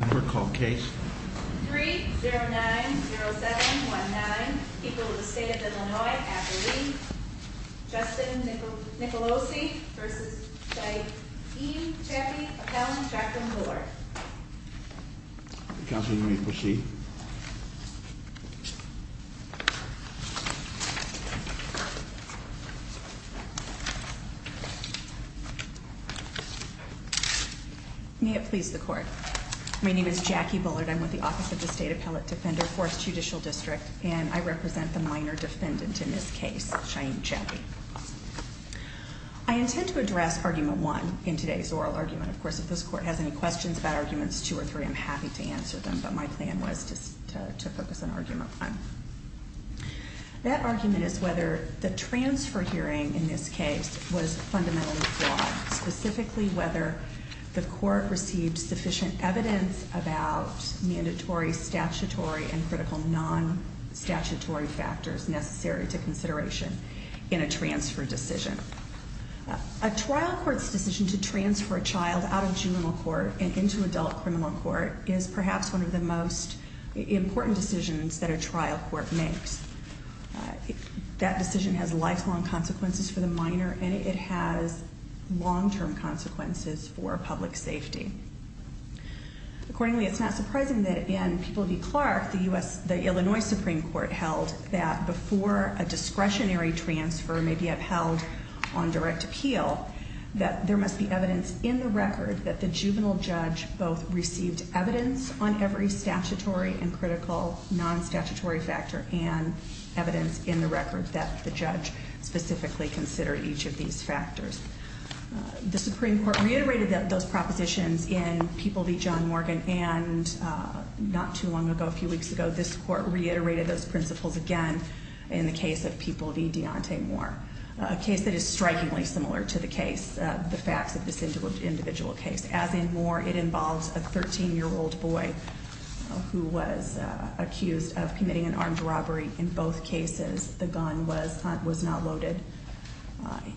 3-0-9-0-7-1-9 People of the State of Illinois after Lee Justin Nicolosi v. Chaiyee Chapai Appellant Jacqueline Bullard Counsel, you may proceed. May it please the Court. My name is Jackie Bullard. I'm with the Office of the State Appellate Defender, 4th Judicial District, and I represent the minor defendant in this case, Chaiyee Chapai. I intend to address Argument 1 in today's oral argument. Of course, if this Court has any questions about Arguments 2 or 3, I'm happy to answer them, but my plan was to focus on Argument 1. That argument is whether the transfer hearing in this case was fundamentally flawed, specifically whether the Court received sufficient evidence about mandatory statutory and critical non-statutory factors necessary to consideration in a transfer decision. A trial court's decision to transfer a child out of juvenile court and into adult criminal court is perhaps one of the most important decisions that a trial court makes. That decision has lifelong consequences for the minor, and it has long-term consequences for public safety. Accordingly, it's not surprising that in People v. Clark, the Illinois Supreme Court held that before a discretionary transfer may be upheld on direct appeal, that there must be evidence in the record that the juvenile judge both received evidence on every statutory and critical non-statutory factor and evidence in the record that the judge specifically considered each of these factors. The Supreme Court reiterated those propositions in People v. John Morgan, and not too long ago, a few weeks ago, this Court reiterated those principles again in the case of People v. Deontay Moore, a case that is strikingly similar to the case, the facts of this individual case. As in Moore, it involves a 13-year-old boy who was accused of committing an armed robbery in both cases. The gun was not loaded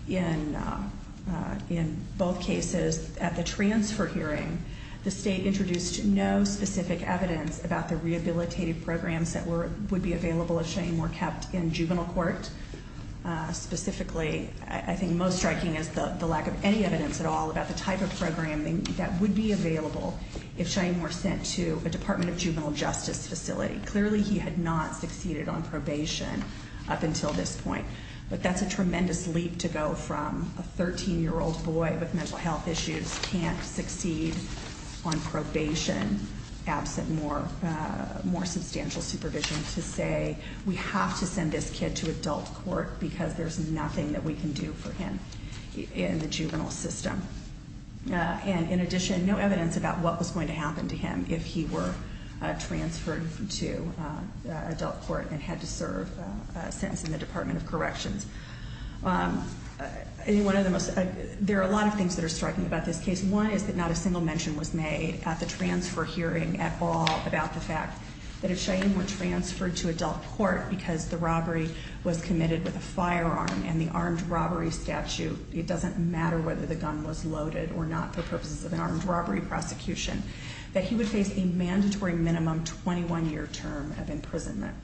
in both cases. At the transfer hearing, the state introduced no specific evidence about the rehabilitative programs that would be available if Shane were kept in juvenile court. Specifically, I think most striking is the lack of any evidence at all about the type of programming that would be available if Shane were sent to a Department of Juvenile Justice facility. Clearly, he had not succeeded on probation up until this point. But that's a tremendous leap to go from a 13-year-old boy with mental health issues can't succeed on probation absent more substantial supervision to say, we have to send this kid to adult court because there's nothing that we can do for him in the juvenile system. And in addition, no evidence about what was going to happen to him if he were transferred to adult court and had to serve a sentence in the Department of Corrections. There are a lot of things that are striking about this case. One is that not a single mention was made at the transfer hearing at all about the fact that if Shane were transferred to adult court because the robbery was committed with a firearm and the armed robbery statute, it doesn't matter whether the gun was loaded or not for purposes of an armed robbery prosecution, that he would face a mandatory minimum 21-year term of imprisonment.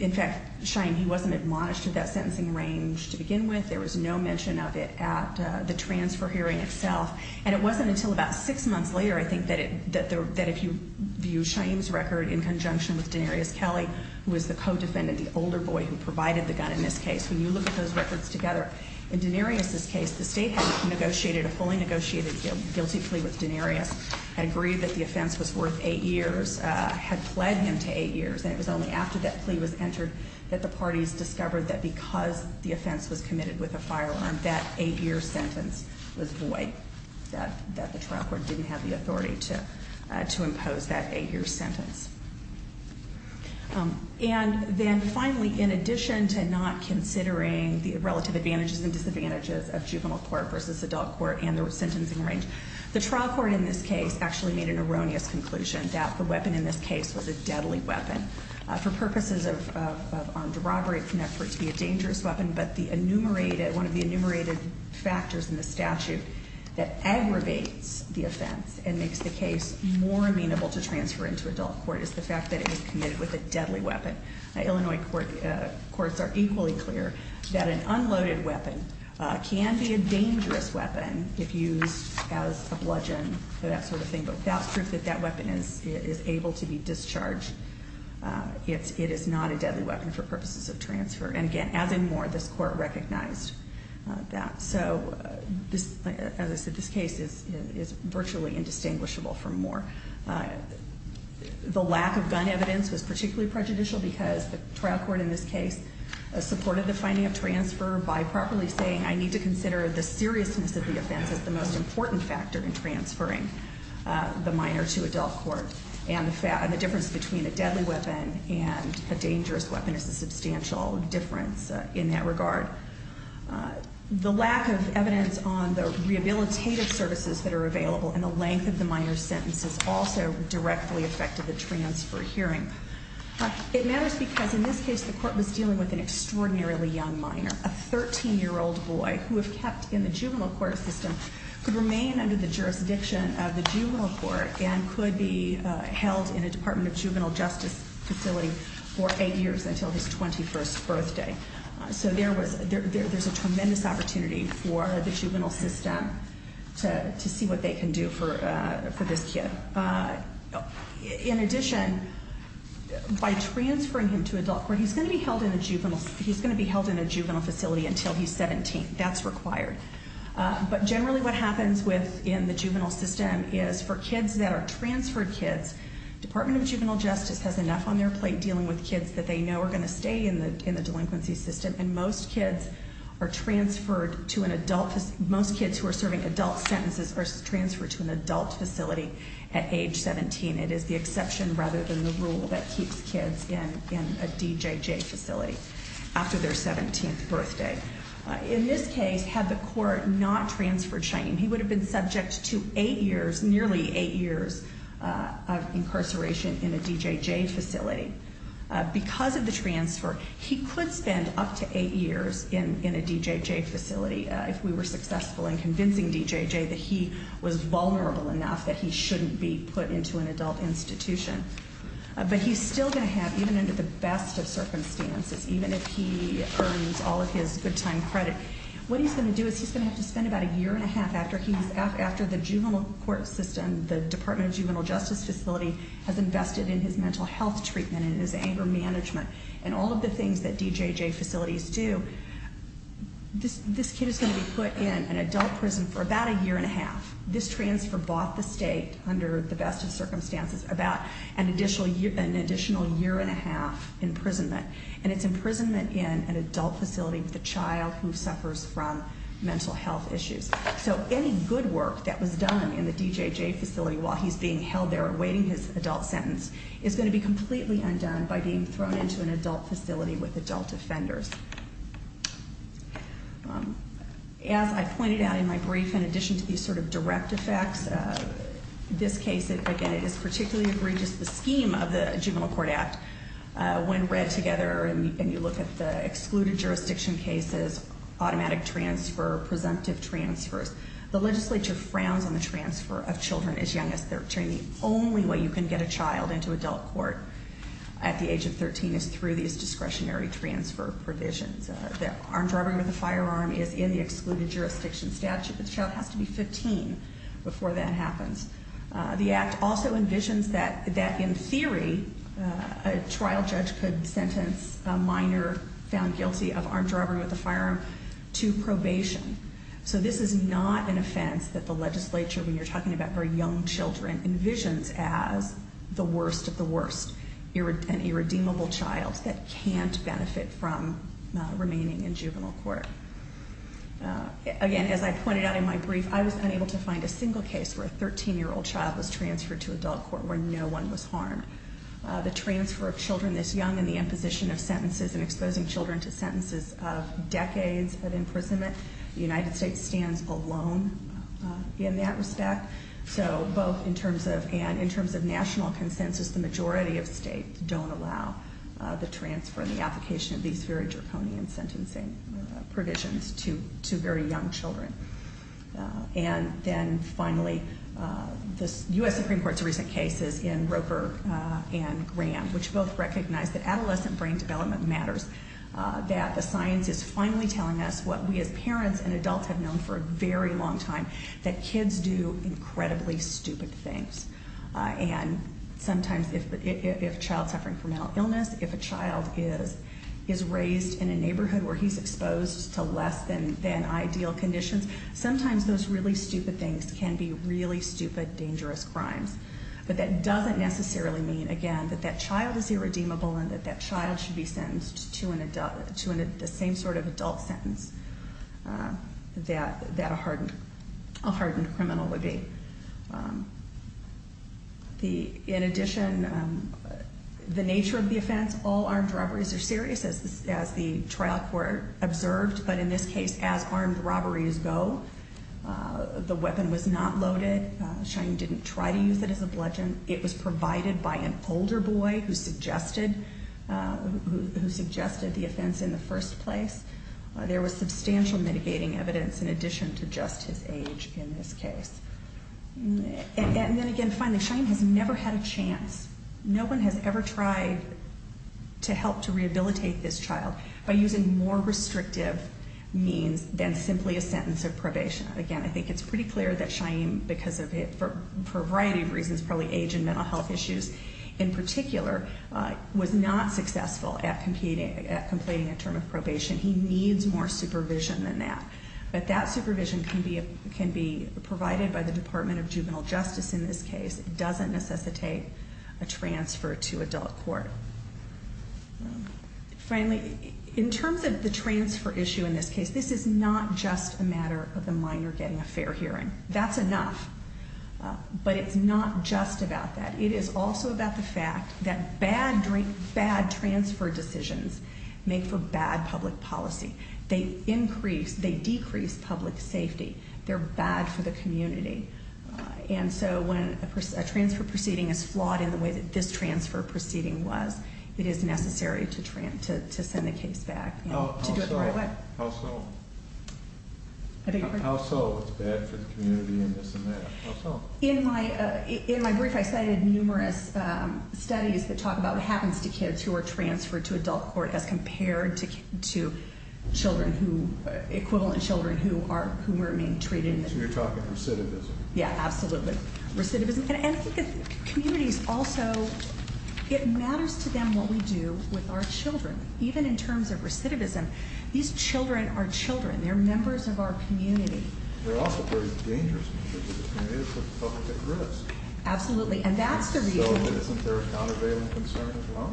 In fact, Shane, he wasn't admonished to that sentencing range to begin with. There was no mention of it at the transfer hearing itself. And it wasn't until about six months later, I think, that if you view Shane's record in conjunction with Denarius Kelly, who is the co-defendant, the older boy who provided the gun in this case, when you look at those records together, in Denarius's case, the state had negotiated a fully negotiated guilty plea with Denarius, had agreed that the offense was worth eight years, had pled him to eight years. And it was only after that plea was entered that the parties discovered that because the offense was committed with a firearm, that eight-year sentence was void, that the trial court didn't have the authority to impose that eight-year sentence. And then finally, in addition to not considering the relative advantages and disadvantages of juvenile court versus adult court and the sentencing range, the trial court in this case actually made an erroneous conclusion that the weapon in this case was a deadly weapon for purposes of armed robbery, not for it to be a dangerous weapon, but one of the enumerated factors in the statute that aggravates the offense and makes the case more amenable to transfer into adult court is the fact that it was committed with a deadly weapon. Illinois courts are equally clear that an unloaded weapon can be a dangerous weapon if used as a bludgeon, that sort of thing, but without proof that that weapon is able to be discharged, it is not a deadly weapon for purposes of transfer. And again, as and more, this court recognized that. So as I said, this case is virtually indistinguishable from more. The lack of gun evidence was particularly prejudicial because the trial court in this case supported the finding of transfer by properly saying I need to consider the seriousness of the offense as the most important factor in transferring the minor to adult court. And the difference between a deadly weapon and a dangerous weapon is a substantial difference in that regard. The lack of evidence on the rehabilitative services that are available and the length of the minor's sentences also directly affected the transfer hearing. It matters because in this case the court was dealing with an extraordinarily young minor, a 13-year-old boy who, if kept in the juvenile court system, could remain under the jurisdiction of the juvenile court and could be held in a Department of Juvenile Justice facility for eight years until his 21st birthday. So there's a tremendous opportunity for the juvenile system to see what they can do for this kid. In addition, by transferring him to adult court, he's going to be held in a juvenile facility until he's 17. That's required. But generally what happens within the juvenile system is for kids that are transferred kids, Department of Juvenile Justice has enough on their plate dealing with kids that they know are going to stay in the delinquency system, and most kids are transferred to an adult, most kids who are serving adult sentences are transferred to an adult facility at age 17. It is the exception rather than the rule that keeps kids in a DJJ facility after their 17th birthday. In this case, had the court not transferred Cheyenne, he would have been subject to eight years, nearly eight years of incarceration in a DJJ facility. Because of the transfer, he could spend up to eight years in a DJJ facility if we were successful in convincing DJJ that he was vulnerable enough that he shouldn't be put into an adult institution. But he's still going to have, even under the best of circumstances, even if he earns all of his good time credit, what he's going to do is he's going to have to spend about a year and a half after the juvenile court system, the Department of Juvenile Justice facility has invested in his mental health treatment and his anger management and all of the things that DJJ facilities do. This kid is going to be put in an adult prison for about a year and a half. This transfer bought the state, under the best of circumstances, about an additional year and a half imprisonment. And it's imprisonment in an adult facility with a child who suffers from mental health issues. So any good work that was done in the DJJ facility while he's being held there awaiting his adult sentence is going to be completely undone by being thrown into an adult facility with adult offenders. As I pointed out in my brief, in addition to these sort of direct effects, this case, again, it is particularly egregious, the scheme of the Juvenile Court Act. When read together and you look at the excluded jurisdiction cases, automatic transfer, presumptive transfers, the legislature frowns on the transfer of children as young as 13. The only way you can get a child into adult court at the age of 13 is through these discretionary transfer provisions. The armed robbery with a firearm is in the excluded jurisdiction statute. The child has to be 15 before that happens. The act also envisions that, in theory, a trial judge could sentence a minor found guilty of armed robbery with a firearm to probation. So this is not an offense that the legislature, when you're talking about very young children, envisions as the worst of the worst, an irredeemable child that can't benefit from remaining in juvenile court. Again, as I pointed out in my brief, I was unable to find a single case where a 13-year-old child was transferred to adult court where no one was harmed. The transfer of children this young and the imposition of sentences and exposing children to sentences of decades of imprisonment, the United States stands alone in that respect. So both in terms of, and in terms of national consensus, the majority of states don't allow the transfer and the application of these very draconian sentencing provisions to very young children. And then finally, the U.S. Supreme Court's recent cases in Roper and Graham, which both recognize that adolescent brain development matters, that the science is finally telling us what we as parents and adults have known for a very long time, that kids do incredibly stupid things. And sometimes if a child's suffering from mental illness, if a child is raised in a neighborhood where he's exposed to less than ideal conditions, sometimes those really stupid things can be really stupid, dangerous crimes. But that doesn't necessarily mean, again, that that child is irredeemable and that that child should be sentenced to the same sort of adult sentence that a hardened criminal would be. In addition, the nature of the offense, all armed robberies are serious, as the trial court observed. But in this case, as armed robberies go, the weapon was not loaded. Cheyenne didn't try to use it as a bludgeon. It was provided by an older boy who suggested the offense in the first place. There was substantial mitigating evidence in addition to just his age in this case. And then again, finally, Cheyenne has never had a chance, no one has ever tried to help to rehabilitate this child by using more restrictive means than simply a sentence of probation. Again, I think it's pretty clear that Cheyenne, for a variety of reasons, probably age and mental health issues in particular, was not successful at completing a term of probation. He needs more supervision than that. But that supervision can be provided by the Department of Juvenile Justice in this case. It doesn't necessitate a transfer to adult court. Finally, in terms of the transfer issue in this case, this is not just a matter of the minor getting a fair hearing. That's enough. But it's not just about that. It is also about the fact that bad transfer decisions make for bad public policy. They decrease public safety. They're bad for the community. And so when a transfer proceeding is flawed in the way that this transfer proceeding was, it is necessary to send the case back to do it the right way. How so? How so it's bad for the community and this and that? How so? In my brief, I cited numerous studies that talk about what happens to kids who are transferred to adult court as compared to equivalent children who are being treated. So you're talking recidivism? Yeah, absolutely. And I think communities also, it matters to them what we do with our children. Even in terms of recidivism, these children are children. They're members of our community. They're also very dangerous to the community. They put the public at risk. Absolutely. And that's the reason. So isn't there a countervailing concern as well?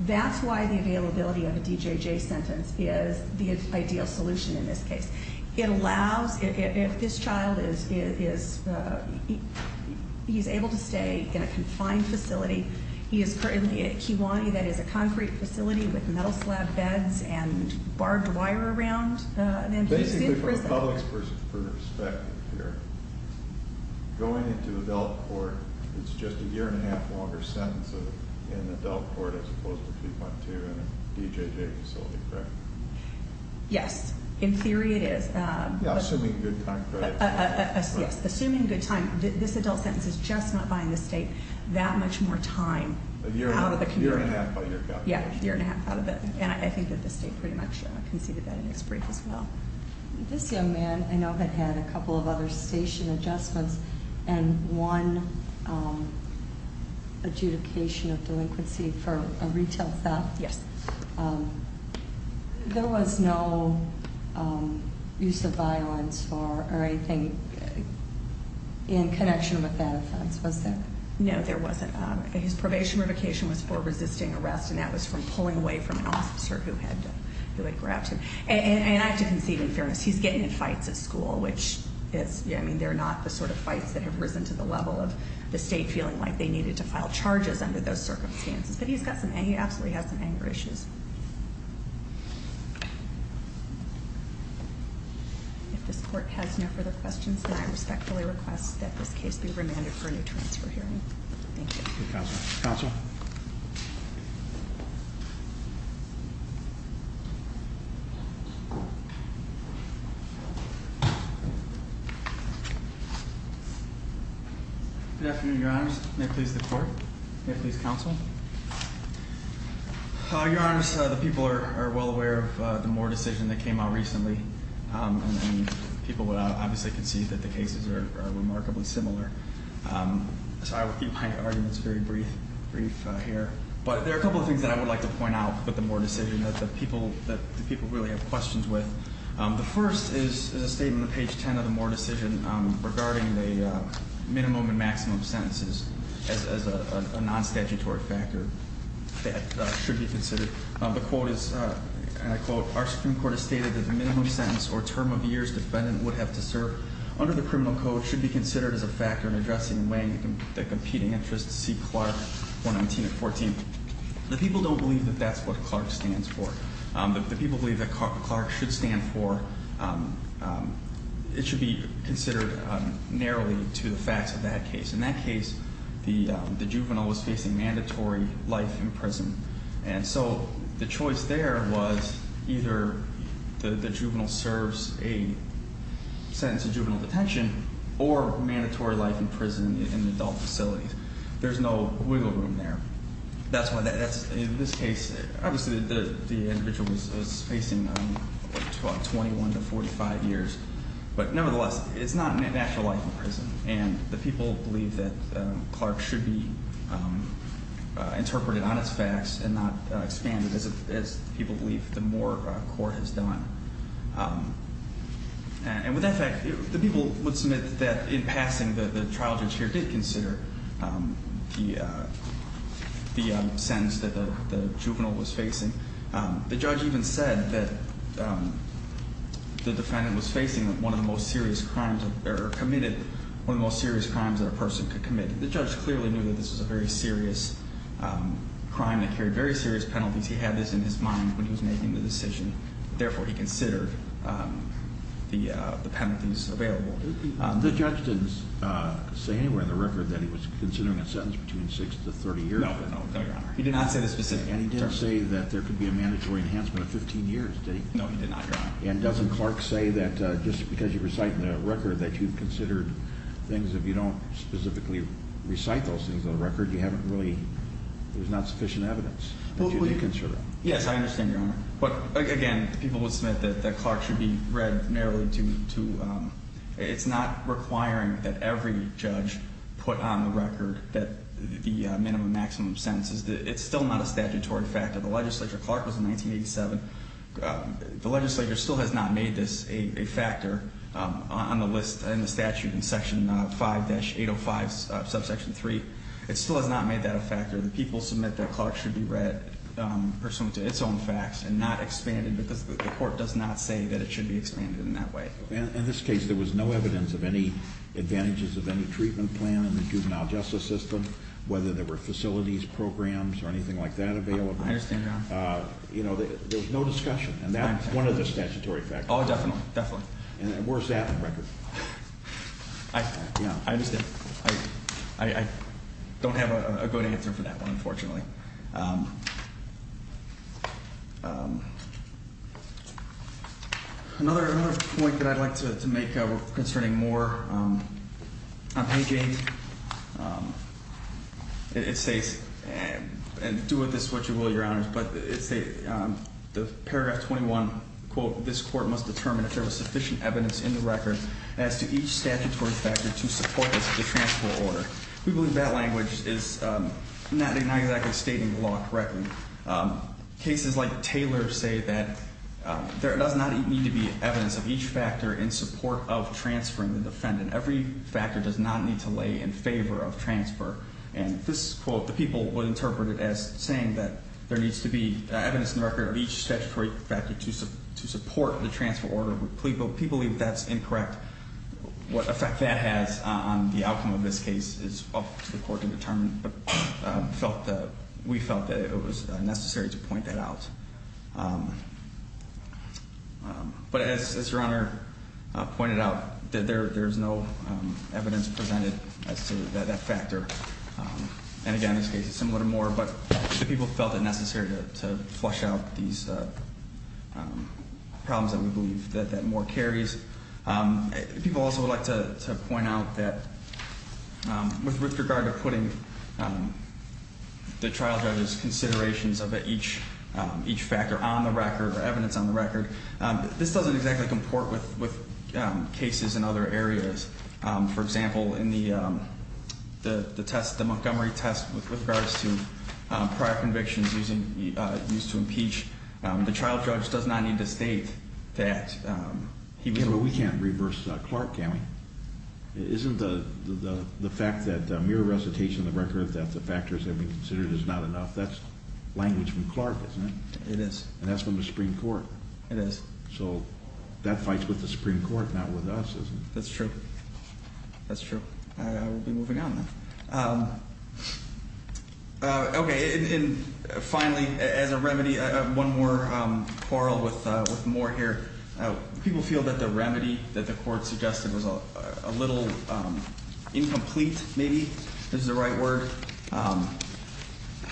That's why the availability of a DJJ sentence is the ideal solution in this case. It allows, if this child is able to stay in a confined facility, he is currently at Kiwani, that is a concrete facility with metal slab beds and barbed wire around, then he's in prison. Basically from the public's perspective here, going into adult court, it's just a year and a half longer sentence in adult court as opposed to 3.2 in a DJJ facility, correct? Yes, in theory it is. Yeah, assuming good time credits. Yes, assuming good time. This adult sentence is just not buying the state that much more time out of the community. A year and a half by your calculation. Yeah, a year and a half. And I think that the state pretty much conceded that in its brief as well. This young man I know had had a couple of other station adjustments and one adjudication of delinquency for a retail theft. Yes. There was no use of violence or anything in connection with that offense, was there? No, there wasn't. His probation revocation was for resisting arrest, and that was for pulling away from an officer who had grabbed him. And I have to concede in fairness, he's getting in fights at school, which they're not the sort of fights that have risen to the level of the state feeling like they needed to file charges under those circumstances. But he absolutely has some anger issues. If this court has no further questions, then I respectfully request that this case be remanded for a new transfer hearing. Thank you. Counsel. Good afternoon, Your Honors. May it please the court. May it please counsel. Your Honors, the people are well aware of the Moore decision that came out recently. People obviously can see that the cases are remarkably similar. So I will keep my arguments very brief here. But there are a couple of things that I would like to point out with the Moore decision that the people really have questions with. The first is a statement on page 10 of the Moore decision regarding the minimum and maximum sentences as a non-statutory factor that should be considered. The quote is, and I quote, Our Supreme Court has stated that the minimum sentence or term of years the defendant would have to serve under the criminal code should be considered as a factor in addressing and weighing the competing interests to see Clark 119-14. The people don't believe that that's what Clark stands for. The people believe that Clark should stand for, it should be considered narrowly to the facts of that case. In that case, the juvenile was facing mandatory life in prison. And so the choice there was either the juvenile serves a sentence of juvenile detention or mandatory life in prison in adult facilities. There's no wiggle room there. In this case, obviously the individual was facing 21 to 45 years. But nevertheless, it's not a natural life in prison. And the people believe that Clark should be interpreted on its facts and not expanded as people believe the Moore court has done. And with that fact, the people would submit that in passing, the trial judge here did consider the sentence that the juvenile was facing. The judge even said that the defendant was facing one of the most serious crimes or committed one of the most serious crimes that a person could commit. The judge clearly knew that this was a very serious crime that carried very serious penalties. He had this in his mind when he was making the decision. Therefore, he considered the penalties available. The judge didn't say anywhere in the record that he was considering a sentence between 6 to 30 years. No, no, Your Honor. He did not say this specifically. And he didn't say that there could be a mandatory enhancement of 15 years, did he? No, he did not, Your Honor. And doesn't Clark say that just because you recite in the record that you've considered things, if you don't specifically recite those things in the record, you haven't really, there's not sufficient evidence that you do consider that? Yes, I understand, Your Honor. But, again, people would submit that Clark should be read narrowly to, it's not requiring that every judge put on the record that the minimum maximum sentence is, it's still not a statutory fact of the legislature. Clark was in 1987. The legislature still has not made this a factor on the list in the statute in Section 5-805, subsection 3. It still has not made that a factor. The people submit that Clark should be read pursuant to its own facts and not expanded because the court does not say that it should be expanded in that way. In this case, there was no evidence of any advantages of any treatment plan in the juvenile justice system, whether there were facilities programs or anything like that available. I understand, Your Honor. And, you know, there was no discussion, and that's one of the statutory factors. Oh, definitely, definitely. And where's that on the record? I understand. I don't have a good answer for that one, unfortunately. Another point that I'd like to make concerning more unpaid gains, it states, and do with this what you will, Your Honors, but it states in paragraph 21, quote, this court must determine if there was sufficient evidence in the record as to each statutory factor to support the transfer order. We believe that language is not exactly stating the law correctly. Cases like Taylor say that there does not need to be evidence of each factor in support of transferring the defendant. Every factor does not need to lay in favor of transfer. And this quote, the people would interpret it as saying that there needs to be evidence in the record of each statutory factor to support the transfer order. People believe that's incorrect. What effect that has on the outcome of this case is up to the court to determine. But we felt that it was necessary to point that out. But as Your Honor pointed out, there's no evidence presented as to that factor. And again, this case is similar to Moore, but the people felt it necessary to flush out these problems that we believe that Moore carries. People also would like to point out that with regard to putting the trial judge's considerations of each factor on the record or evidence on the record, this doesn't exactly comport with cases in other areas. For example, in the Montgomery test with regards to prior convictions used to impeach, the trial judge does not need to state that he was- Yeah, but we can't reverse Clark, can we? Isn't the fact that mere recitation of the record that the factors have been considered is not enough? That's language from Clark, isn't it? It is. And that's from the Supreme Court. It is. So that fights with the Supreme Court, not with us, isn't it? That's true. That's true. We'll be moving on now. Okay. And finally, as a remedy, one more quarrel with Moore here. People feel that the remedy that the court suggested was a little incomplete, maybe, is the right word.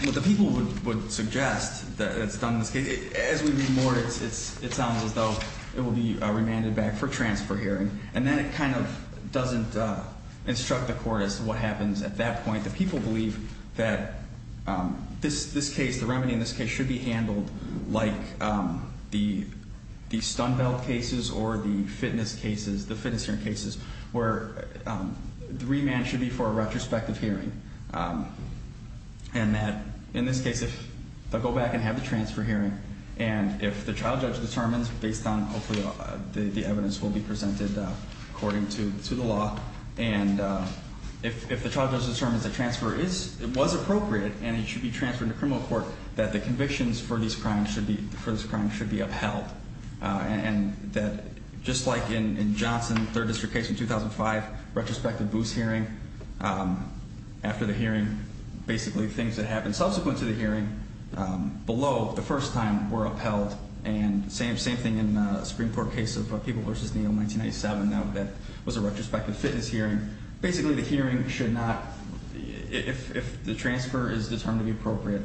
What the people would suggest that's done in this case, as we read more, it sounds as though it will be remanded back for transfer here. And then it kind of doesn't instruct the court as to what happens at that point. The people believe that this case, the remedy in this case, should be handled like the stun belt cases or the fitness cases, the fitness hearing cases, where the remand should be for a retrospective hearing and that, in this case, they'll go back and have the transfer hearing. And if the trial judge determines, based on hopefully the evidence will be presented according to the law, and if the trial judge determines that transfer was appropriate and it should be transferred to criminal court, that the convictions for this crime should be upheld. And that, just like in Johnson, third district case in 2005, retrospective boost hearing, after the hearing, basically things that happened subsequent to the hearing, below the first time, were upheld. And same thing in the Supreme Court case of People v. Neal in 1997, that was a retrospective fitness hearing. Basically, the hearing should not, if the transfer is determined to be appropriate,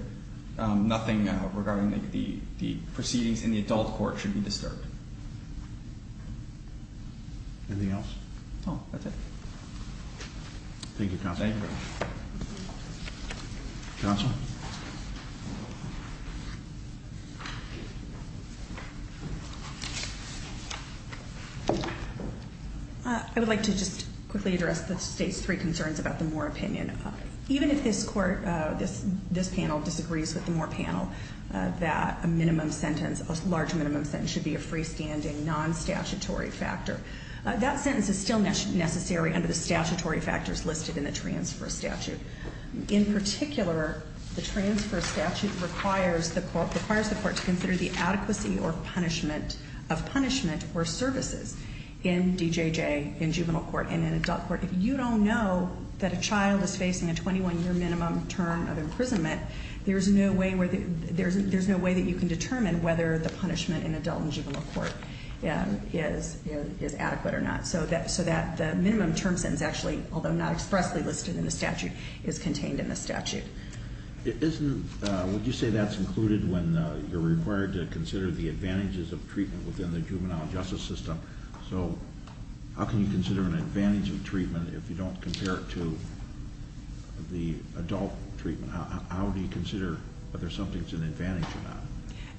nothing regarding the proceedings in the adult court should be disturbed. That's it. Anything else? That's it. Thank you, Counsel. Thank you. Counsel? I would like to just quickly address the state's three concerns about the Moore opinion. Even if this court, this panel disagrees with the Moore panel, that a minimum sentence, a large minimum sentence should be a freestanding, non-statutory factor. That sentence is still necessary under the statutory factors listed in the transfer statute. In particular, the transfer statute requires the court to consider the adequacy of punishment or services in DJJ, in juvenile court and in adult court. If you don't know that a child is facing a 21-year minimum term of imprisonment, there's no way that you can determine whether the punishment in adult and juvenile court is adequate or not. So that the minimum term sentence actually, although not expressly listed in the statute, is contained in the statute. Wouldn't you say that's included when you're required to consider the advantages of treatment within the juvenile justice system? So how can you consider an advantage of treatment if you don't compare it to the adult treatment? How do you consider whether something's an advantage or not?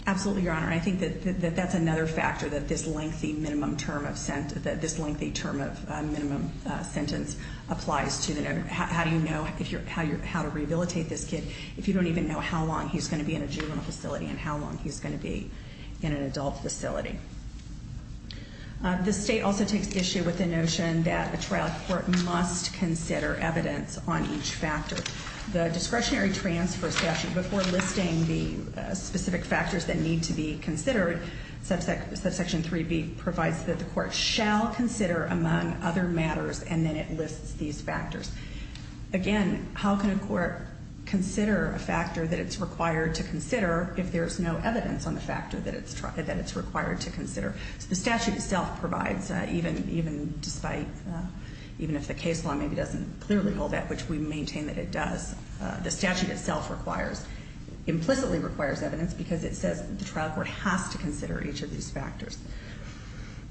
Absolutely, Your Honor. I think that that's another factor that this lengthy minimum term of sentence, that this lengthy term of minimum sentence applies to. How do you know how to rehabilitate this kid if you don't even know how long he's going to be in a juvenile facility and how long he's going to be in an adult facility? The state also takes issue with the notion that a trial court must consider evidence on each factor. The discretionary transfer statute, before listing the specific factors that need to be considered, subsection 3B provides that the court shall consider among other matters, and then it lists these factors. Again, how can a court consider a factor that it's required to consider if there's no evidence on the factor that it's required to consider? The statute itself provides, even if the case law maybe doesn't clearly hold that, which we maintain that it does, the statute itself implicitly requires evidence because it says the trial court has to consider each of these factors.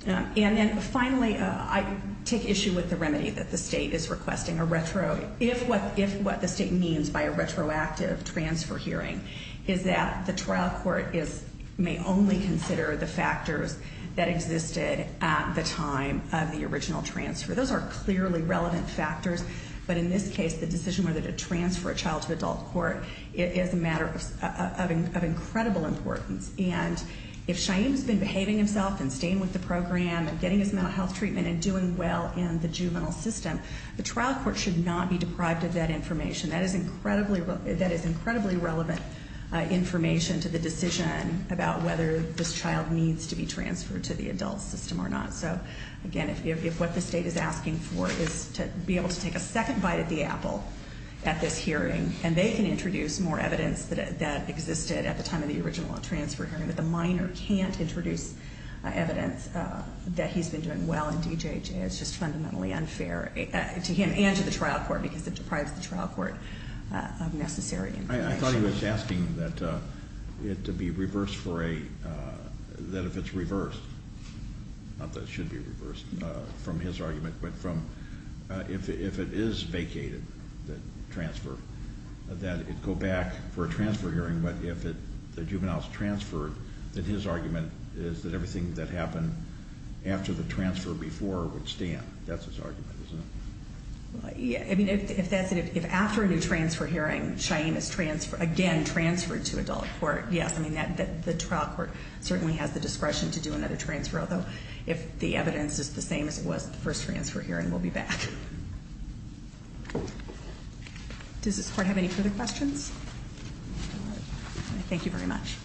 And then finally, I take issue with the remedy that the state is requesting. If what the state means by a retroactive transfer hearing is that the trial court may only consider the factors that existed at the time of the original transfer, those are clearly relevant factors, but in this case, the decision whether to transfer a child to adult court is a matter of incredible importance. And if Shaim's been behaving himself and staying with the program and getting his mental health treatment and doing well in the juvenile system, the trial court should not be deprived of that information. That is incredibly relevant information to the decision about whether this child needs to be transferred to the adult system or not. So again, if what the state is asking for is to be able to take a second bite at the apple at this hearing, and they can introduce more evidence that existed at the time of the original transfer hearing, but the minor can't introduce evidence that he's been doing well in DJJ, it's just fundamentally unfair to him and to the trial court because it deprives the trial court of necessary information. I thought he was asking that if it's reversed, not that it should be reversed from his argument, but if it is vacated, the transfer, that it go back for a transfer hearing. But if the juvenile is transferred, then his argument is that everything that happened after the transfer before would stand. That's his argument, isn't it? I mean, if that's it, if after a new transfer hearing, Cheyenne is again transferred to adult court, yes. I mean, the trial court certainly has the discretion to do another transfer, although if the evidence is the same as it was at the first transfer hearing, we'll be back. Does this court have any further questions? Thank you very much.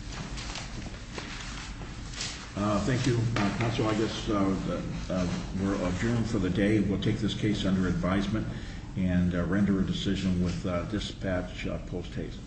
Thank you, Counsel. I guess we're adjourned for the day. We'll take this case under advisement and render a decision with dispatch post-haste.